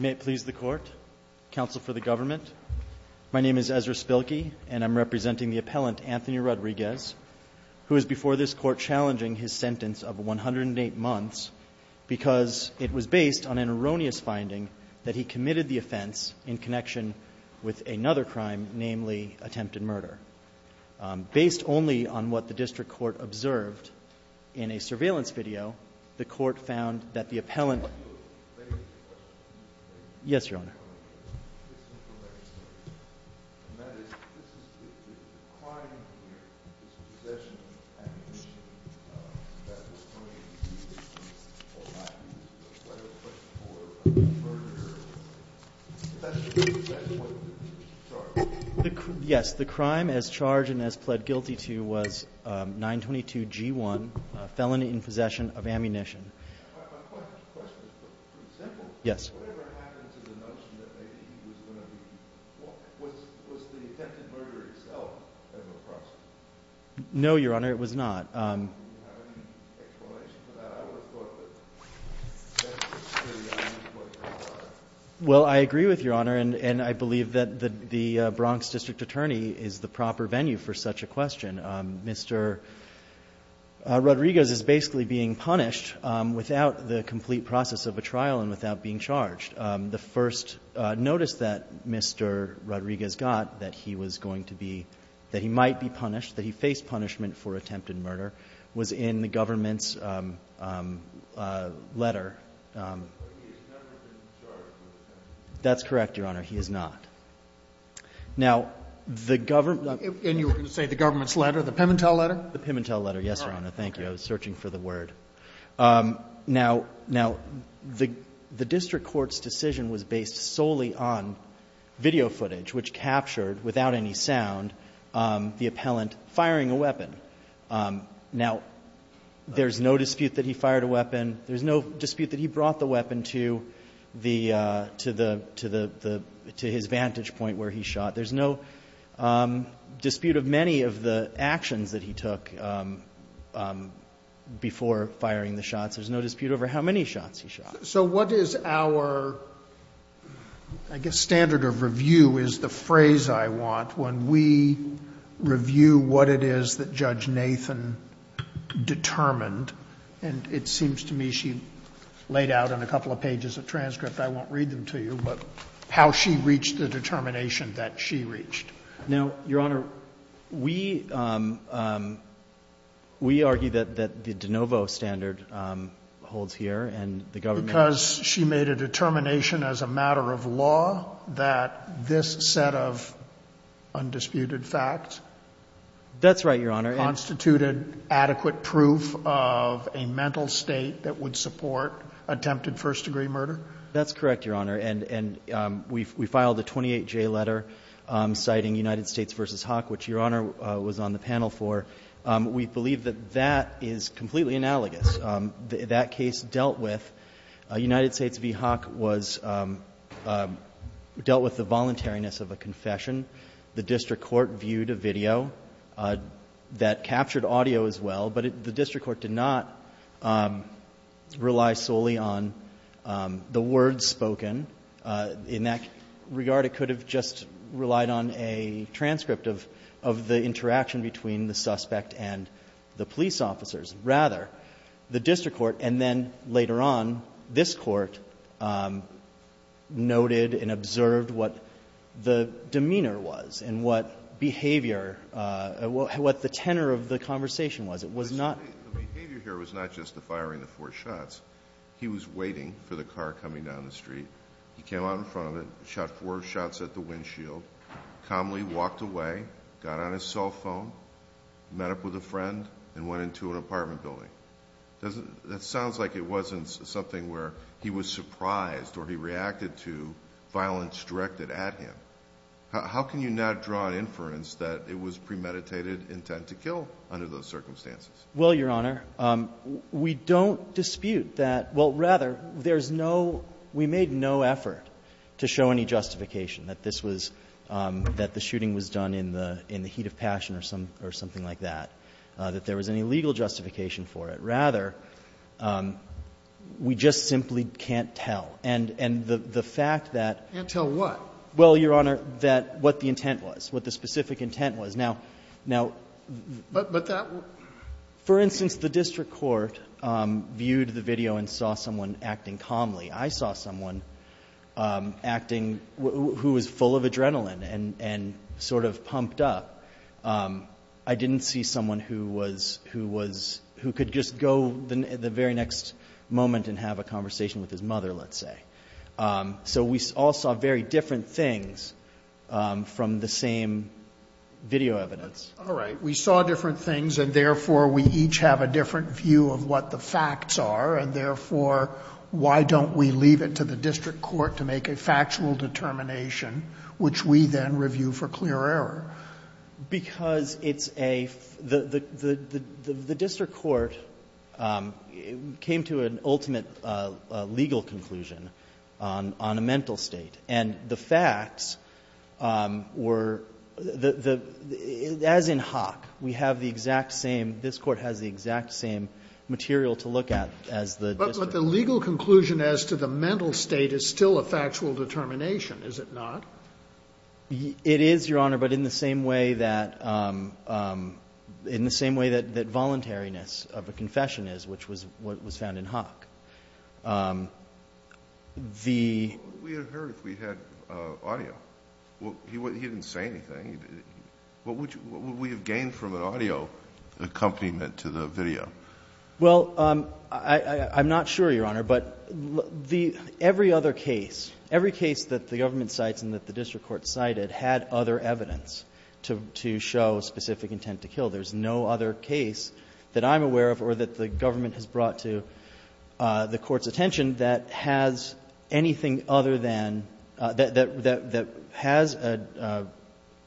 May it please the court, counsel for the government, my name is Ezra Spilkey and I'm representing the appellant, Anthony Rodriguez, who is before this court challenging his sentence of 108 months because it was based on an erroneous finding that he committed the offense in connection with another crime, namely attempted murder. Based only on what the district court observed in a surveillance video, the court found that the appellant. Yes, Your Honor. Yes, the crime as charged and as pled guilty to was 922 G1, felony in possession of ammunition. Yes. No, Your Honor, it was not. Well, I agree with Your Honor, and I believe that the Bronx district attorney is the proper venue for such a question. Mr. Rodriguez is basically being punished without the complete process of a trial and without being charged. The first notice that Mr. Rodriguez got that he was going to be — that he might be punished, that he faced punishment for attempted murder was in the government's letter. But he has never been charged with attempted murder. That's correct, Your Honor. He has not. Now, the government — And you were going to say the government's letter, the Pimentel letter? The Pimentel letter, yes, Your Honor. Thank you. I was searching for the word. Now, the district court's decision was based solely on video footage, which captured without any sound the appellant firing a weapon. Now, there's no dispute that he fired a weapon. There's no dispute that he brought the weapon to the — to his vantage point where he shot. There's no dispute of many of the actions that he took before firing the shots. There's no dispute over how many shots he shot. So what is our, I guess, standard of review is the phrase I want when we review what it is that Judge Nathan determined. And it seems to me she laid out in a couple of pages of transcript, I won't read them to you, but how she reached the determination that she reached. Now, Your Honor, we argue that the de novo standard holds here, and the government — Because she made a determination as a matter of law that this set of undisputed facts — That's right, Your Honor. Constituted adequate proof of a mental state that would support attempted first-degree murder? That's correct, Your Honor. And we filed a 28J letter citing United States v. Hawk, which Your Honor was on the panel for. We believe that that is completely analogous. That case dealt with — United States v. Hawk was — dealt with the voluntariness of a confession. The district court viewed a video that captured audio as well, but the district court did not rely solely on the words spoken. In that regard, it could have just relied on a transcript of the interaction between the suspect and the police officers. Rather, the district court, and then later on, this court, noted and observed what the demeanor was and what behavior — what the tenor of the conversation was. It was not — The behavior here was not just the firing of four shots. He was waiting for the car coming down the street. He came out in front of it, shot four shots at the windshield, calmly walked away, got on his cell phone, met up with a friend, and went into an apartment building. Doesn't — that sounds like it wasn't something where he was surprised or he reacted to violence directed at him. How can you not draw an inference that it was premeditated intent to kill under those circumstances? Well, Your Honor, we don't dispute that — well, rather, there's no — we made no effort to show any justification that this was — that the shooting was done in the — in the heat of passion or something like that, that there was any legal justification for it. Rather, we just simply can't tell. And the fact that — Can't tell what? Well, Your Honor, that — what the intent was, what the specific intent was. Now — now — But that — For instance, the district court viewed the video and saw someone acting calmly. I saw someone acting — who was full of adrenaline and sort of pumped up. I didn't see someone who was — who was — who could just go the very next moment and have a conversation with his mother, let's say. So we all saw very different things from the same video evidence. All right. We saw different things, and therefore, we each have a different view of what the facts are, and therefore, why don't we leave it to the district court to make a factual determination, which we then review for clear error? Because it's a — the district court came to an ultimate legal conclusion on a mental state. And the facts were — as in Hawk, we have the exact same — this Court has the exact same material to look at as the district. But the legal conclusion as to the mental state is still a factual determination, is it not? It is, Your Honor, but in the same way that — in the same way that voluntariness of a confession is, which was what was found in Hawk. The — We would have heard if we had audio. He didn't say anything. What would you — what would we have gained from an audio accompaniment to the video? Well, I'm not sure, Your Honor, but the — every other case, every case that the district court cited had other evidence to show specific intent to kill. There's no other case that I'm aware of or that the government has brought to the court's attention that has anything other than — that has a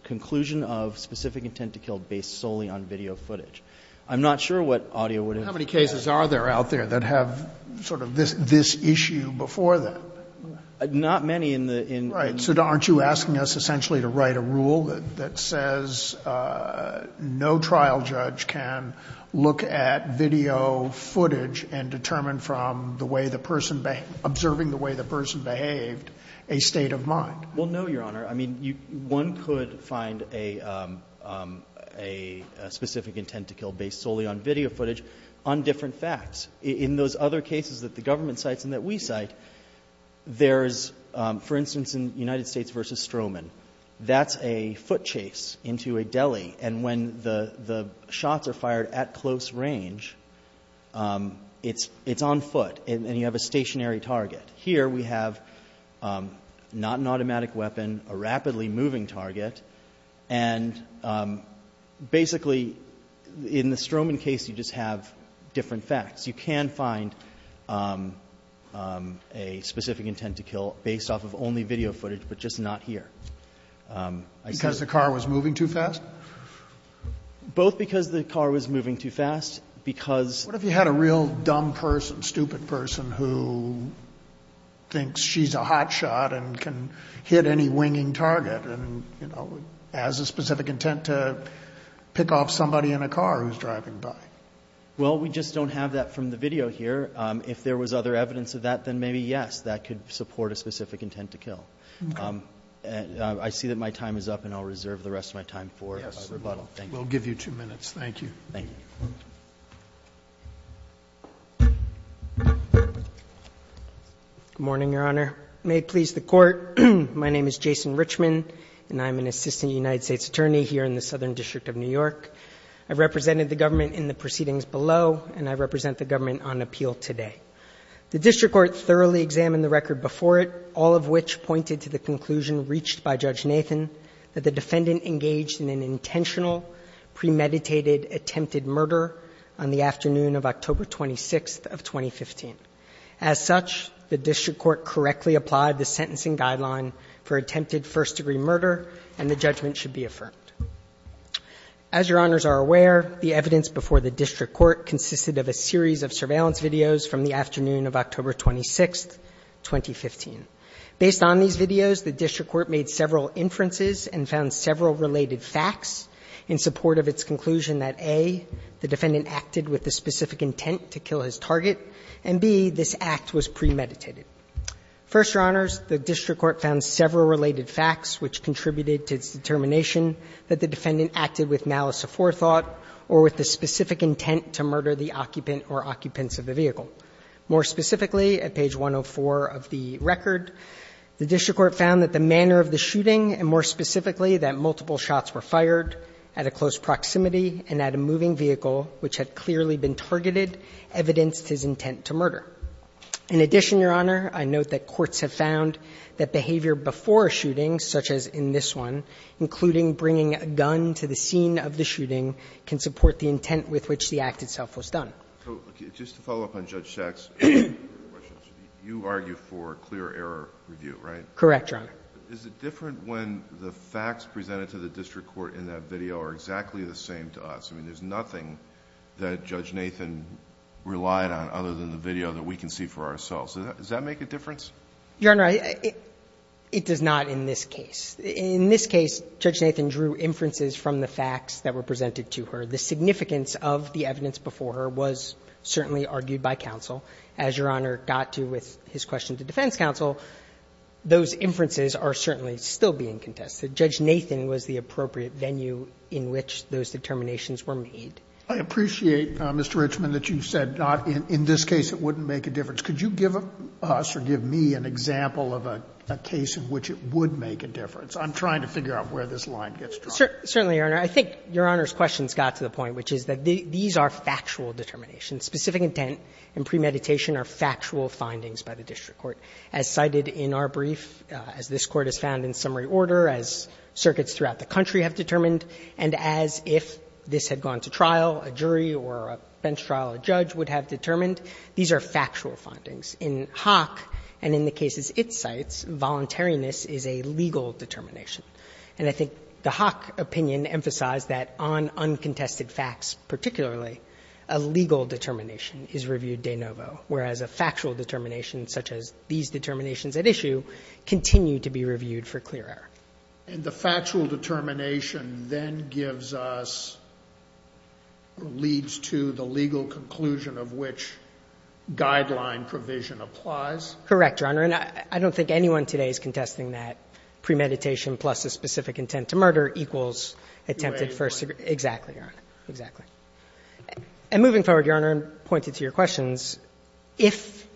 conclusion of specific intent to kill based solely on video footage. I'm not sure what audio would have — Well, how many cases are there out there that have sort of this issue before them? Not many in the — Right. So aren't you asking us essentially to write a rule that says no trial judge can look at video footage and determine from the way the person — observing the way the person behaved a state of mind? Well, no, Your Honor. I mean, one could find a specific intent to kill based solely on video footage on different facts. In those other cases that the government cites and that we cite, there's — for instance, in United States v. Stroman, that's a foot chase into a deli. And when the shots are fired at close range, it's on foot, and you have a stationary target. Here we have not an automatic weapon, a rapidly moving target. And basically, in the Stroman case, you just have different facts. You can find a specific intent to kill based off of only video footage, but just not here. Because the car was moving too fast? Both because the car was moving too fast, because — What if you had a real dumb person, stupid person, who thinks she's a hotshot and can hit any winging target and, you know, has a specific intent to pick off somebody in a car who's driving by? Well, we just don't have that from the video here. If there was other evidence of that, then maybe, yes, that could support a specific intent to kill. Okay. I see that my time is up, and I'll reserve the rest of my time for rebuttal. Yes. Thank you. We'll give you two minutes. Thank you. Thank you. Good morning, Your Honor. May it please the Court, my name is Jason Richman, and I'm an assistant United States attorney here in the Southern District of New York. I represented the government in the proceedings below, and I represent the government on appeal today. The district court thoroughly examined the record before it, all of which pointed to the conclusion reached by Judge Nathan that the defendant engaged in an intentional, premeditated, attempted murder on the afternoon of October 26th of 2015. As such, the district court correctly applied the sentencing guideline for attempted first-degree murder, and the judgment should be affirmed. As Your Honors are aware, the evidence before the district court consisted of a series of surveillance videos from the afternoon of October 26th, 2015. Based on these videos, the district court made several inferences and found several related facts in support of its conclusion that, A, the defendant acted with a specific intent to kill his target, and, B, this act was premeditated. First, Your Honors, the district court found several related facts which contributed to its determination that the defendant acted with malice aforethought or with the specific intent to murder the occupant or occupants of the vehicle. More specifically, at page 104 of the record, the district court found that the manner of the shooting, and more specifically, that multiple shots were fired at a close target, evidenced his intent to murder. In addition, Your Honor, I note that courts have found that behavior before a shooting, such as in this one, including bringing a gun to the scene of the shooting, can support the intent with which the act itself was done. Alito, just to follow up on Judge Schacht's question, you argue for clear error review, right? Correct, Your Honor. Is it different when the facts presented to the district court in that video are exactly the same to us? I mean, there's nothing that Judge Nathan relied on other than the video that we can see for ourselves. Does that make a difference? Your Honor, it does not in this case. In this case, Judge Nathan drew inferences from the facts that were presented to her. The significance of the evidence before her was certainly argued by counsel. As Your Honor got to with his question to defense counsel, those inferences are certainly still being contested. Judge Nathan was the appropriate venue in which those determinations were made. I appreciate, Mr. Richmond, that you said in this case it wouldn't make a difference. Could you give us or give me an example of a case in which it would make a difference? I'm trying to figure out where this line gets drawn. Certainly, Your Honor. I think Your Honor's question's got to the point, which is that these are factual determinations. Specific intent and premeditation are factual findings by the district court. As cited in our brief, as this Court has found in summary order, as circuits throughout the country have determined, and as if this had gone to trial, a jury or a bench trial, a judge would have determined, these are factual findings. In Hock and in the cases it cites, voluntariness is a legal determination. And I think the Hock opinion emphasized that on uncontested facts, particularly a legal determination is reviewed de novo, whereas a factual determination, such as these determinations at issue, continue to be reviewed for clear error. And the factual determination then gives us or leads to the legal conclusion of which guideline provision applies? Correct, Your Honor. And I don't think anyone today is contesting that premeditation plus a specific intent to murder equals attempted first degree. Exactly, Your Honor. Exactly. And moving forward, Your Honor, and pointed to your questions, if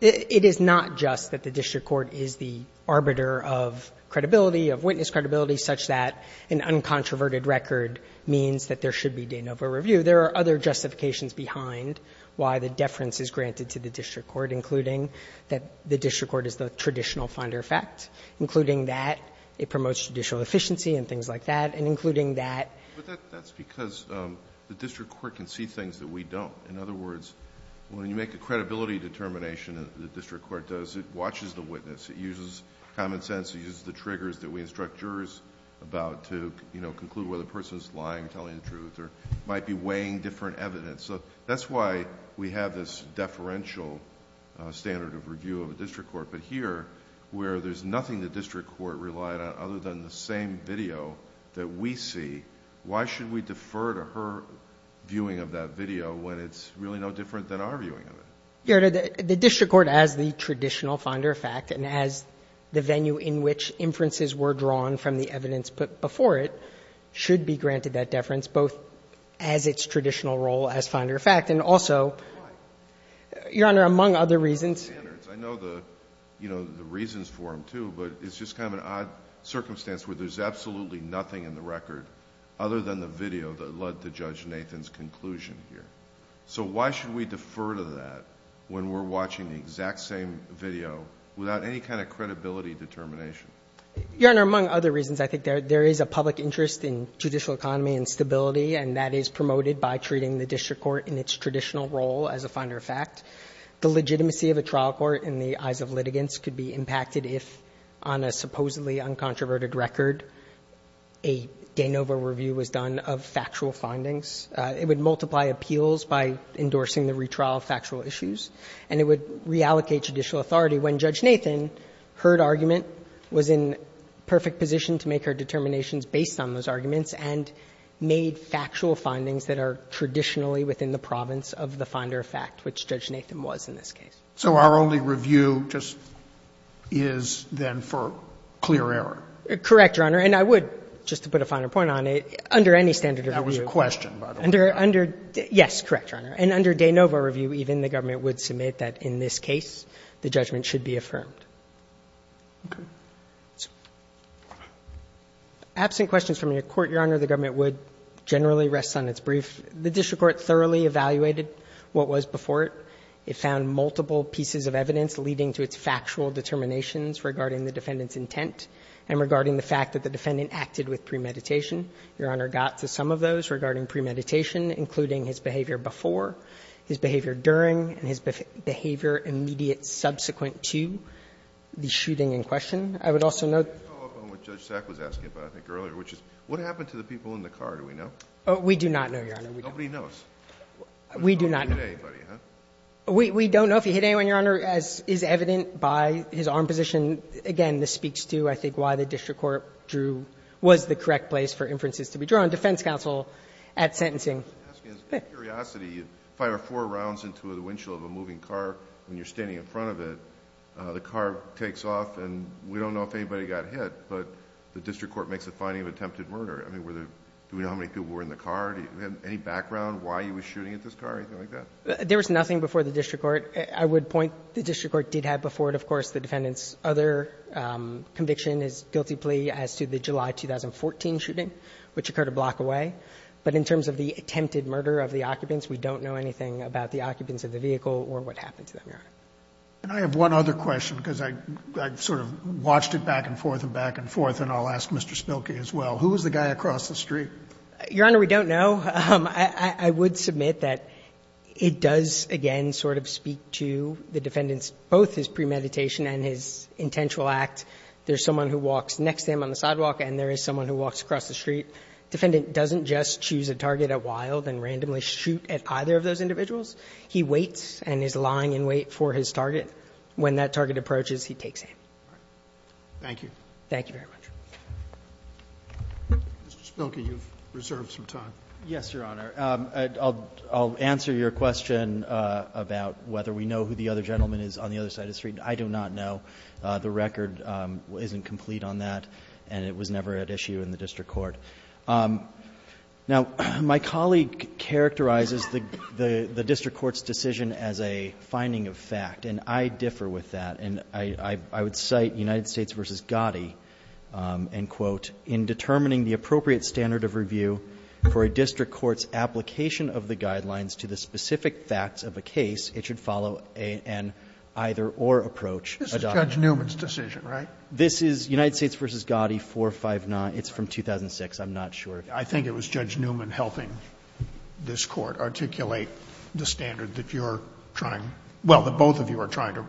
it is not just that the district court is the arbiter of credibility, of witness credibility, such that an uncontroverted record means that there should be de novo review, there are other justifications behind why the deference is granted to the district court, including that the district court is the traditional finder of fact, including that it promotes judicial efficiency and things like that, and including that. But that's because the district court can see things that we don't. In other words, when you make a credibility determination that the district court does, it watches the witness, it uses common sense, it uses the triggers that we instruct jurors about to conclude whether a person is lying, telling the truth, or might be weighing different evidence. So that's why we have this deferential standard of review of the district court. But here, where there's nothing the district court relied on other than the record, why should we defer to her viewing of that video when it's really no different than our viewing of it? The district court, as the traditional finder of fact, and as the venue in which inferences were drawn from the evidence put before it, should be granted that deference, both as its traditional role as finder of fact, and also, Your Honor, among other reasons. I know the reasons for them, too, but it's just kind of an odd circumstance where there's absolutely nothing in the record other than the video that led to Judge Nathan's conclusion here. So why should we defer to that when we're watching the exact same video without any kind of credibility determination? Your Honor, among other reasons, I think there is a public interest in judicial economy and stability, and that is promoted by treating the district court in its traditional role as a finder of fact. The legitimacy of a trial court in the eyes of litigants could be impacted if, on a record, a de novo review was done of factual findings. It would multiply appeals by endorsing the retrial of factual issues, and it would reallocate judicial authority when Judge Nathan heard argument, was in perfect position to make her determinations based on those arguments, and made factual findings that are traditionally within the province of the finder of fact, which Judge Nathan was in this case. So our only review just is, then, for clear error? Correct, Your Honor. And I would, just to put a finer point on it, under any standard of review. That was a question, by the way. Under — yes, correct, Your Honor. And under de novo review, even, the government would submit that in this case the judgment should be affirmed. Absent questions from your Court, Your Honor, the government would generally rest on its brief. The district court thoroughly evaluated what was before it. It found multiple pieces of evidence leading to its factual determinations regarding the defendant's intent, and regarding the fact that the defendant acted with premeditation. Your Honor, got to some of those regarding premeditation, including his behavior before, his behavior during, and his behavior immediate subsequent to the shooting in question. I would also note the following point, which Judge Sack was asking about, I think, earlier, which is, what happened to the people in the car, do we know? Oh, we do not know, Your Honor, we don't know. Nobody knows? We do not know. Nobody hit anybody, huh? We don't know if he hit anyone, Your Honor, as is evident by his arm position. Again, this speaks to, I think, why the district court drew, was the correct place for inferences to be drawn, defense counsel at sentencing. Asking a curiosity, you fire four rounds into the windshield of a moving car when you're standing in front of it, the car takes off, and we don't know if anybody got hit, but the district court makes a finding of attempted murder. I mean, were there, do we know how many people were in the car? Do you have any background, why he was shooting at this car, anything like that? There was nothing before the district court. I would point, the district court did have before it, of course, the defendant's other conviction, his guilty plea as to the July 2014 shooting, which occurred a block away. But in terms of the attempted murder of the occupants, we don't know anything about the occupants of the vehicle or what happened to them, Your Honor. And I have one other question, because I sort of watched it back and forth and back and forth, and I'll ask Mr. Spilkey as well. Who was the guy across the street? Your Honor, we don't know. I would submit that it does, again, sort of speak to the defendant's, both his premeditation and his intentional act. There's someone who walks next to him on the sidewalk, and there is someone who walks across the street. Defendant doesn't just choose a target at wild and randomly shoot at either of those individuals. He waits and is lying in wait for his target. When that target approaches, he takes aim. Thank you. Thank you very much. Mr. Spilkey, you've reserved some time. Yes, Your Honor. I'll answer your question about whether we know who the other gentleman is on the other side of the street. I do not know. The record isn't complete on that, and it was never at issue in the district court. Now, my colleague characterizes the district court's decision as a finding of fact, and I differ with that. And I would cite United States v. Gotti, and quote, in determining the appropriate standard of review for a district court's application of the guidelines to the specific facts of a case, it should follow an either-or approach. This is Judge Newman's decision, right? This is United States v. Gotti, 459. It's from 2006. I'm not sure. I think it was Judge Newman helping this Court articulate the standard that you're trying to – well, that both of you are trying to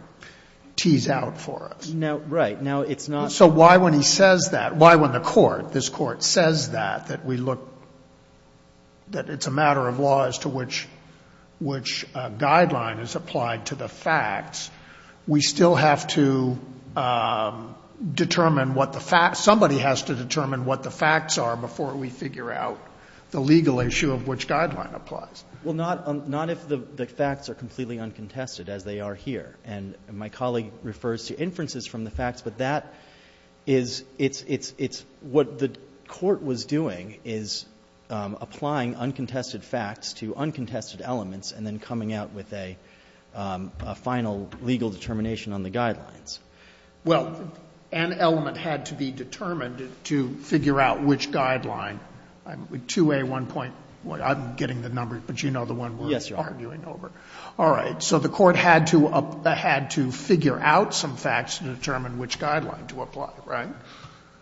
tease out for us. No, right. Now, it's not – So why, when he says that – why, when the Court, this Court, says that, that we look – that it's a matter of law as to which – which guideline is applied to the facts, we still have to determine what the facts – somebody has to determine what the facts are before we figure out the legal issue of which guideline applies? Well, not – not if the facts are completely uncontested, as they are here. And my colleague refers to inferences from the facts, but that is – it's – it's – what the Court was doing is applying uncontested facts to uncontested elements and then coming out with a final legal determination on the guidelines. Well, an element had to be determined to figure out which guideline. 2A1.1, I'm getting the number, but you know the one we're arguing over. Yes, Your Honor. All right. So the Court had to – had to figure out some facts to determine which guideline to apply, right?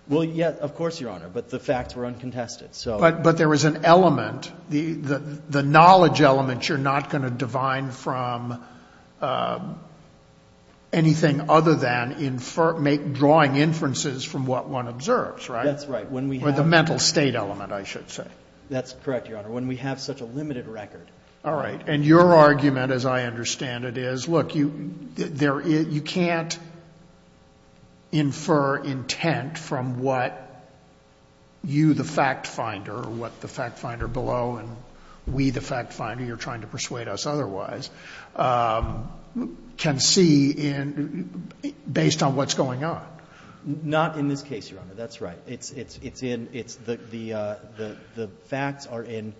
Well, yes, of course, Your Honor, but the facts were uncontested, so – But – but there was an element, the – the knowledge element you're not going to divine from anything other than infer – make drawing inferences from what one observes, right? That's right. When we have – Or the mental state element, I should say. That's correct, Your Honor. When we have such a limited record – All right. And your argument, as I understand it, is, look, you – there – you can't infer intent from what you, the fact finder, or what the fact finder below, and we, the fact finder, you're trying to persuade us otherwise, can see in – based on what's going on. Not in this case, Your Honor. That's right. It's – it's in – it's the – the facts are in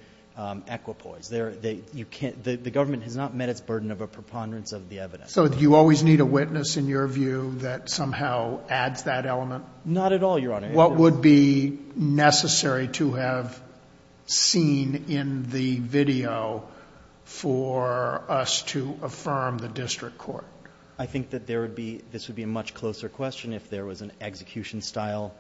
equipoise. There – you can't – the government has not met its burden of a preponderance of the evidence. So do you always need a witness, in your view, that somehow adds that element? Not at all, Your Honor. What would be necessary to have seen in the video for us to affirm the district court? I think that there would be – this would be a much closer question if there was an execution-style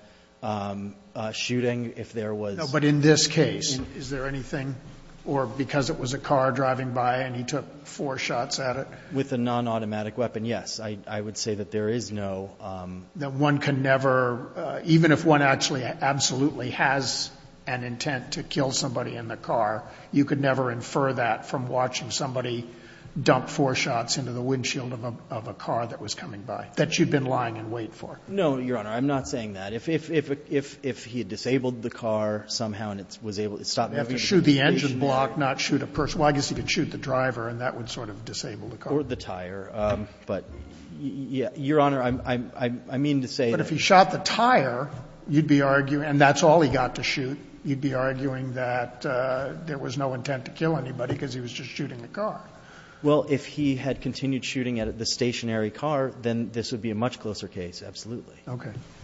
shooting, if there was – No, but in this case, is there anything – Or because it was a car driving by and he took four shots at it? With a non-automatic weapon, yes. I – I would say that there is no – That one can never – even if one actually absolutely has an intent to kill somebody in the car, you could never infer that from watching somebody dump four shots into the windshield of a – of a car that was coming by, that you'd been lying in wait for. No, Your Honor. I'm not saying that. If – if – if he had disabled the car somehow and it was able – it stopped not shoot a person – well, I guess he could shoot the driver and that would sort of disable the car. Or the tire. But, Your Honor, I'm – I mean to say that – But if he shot the tire, you'd be arguing – and that's all he got to shoot. You'd be arguing that there was no intent to kill anybody because he was just shooting the car. Well, if he had continued shooting at the stationary car, then this would be a much closer case, absolutely. Okay.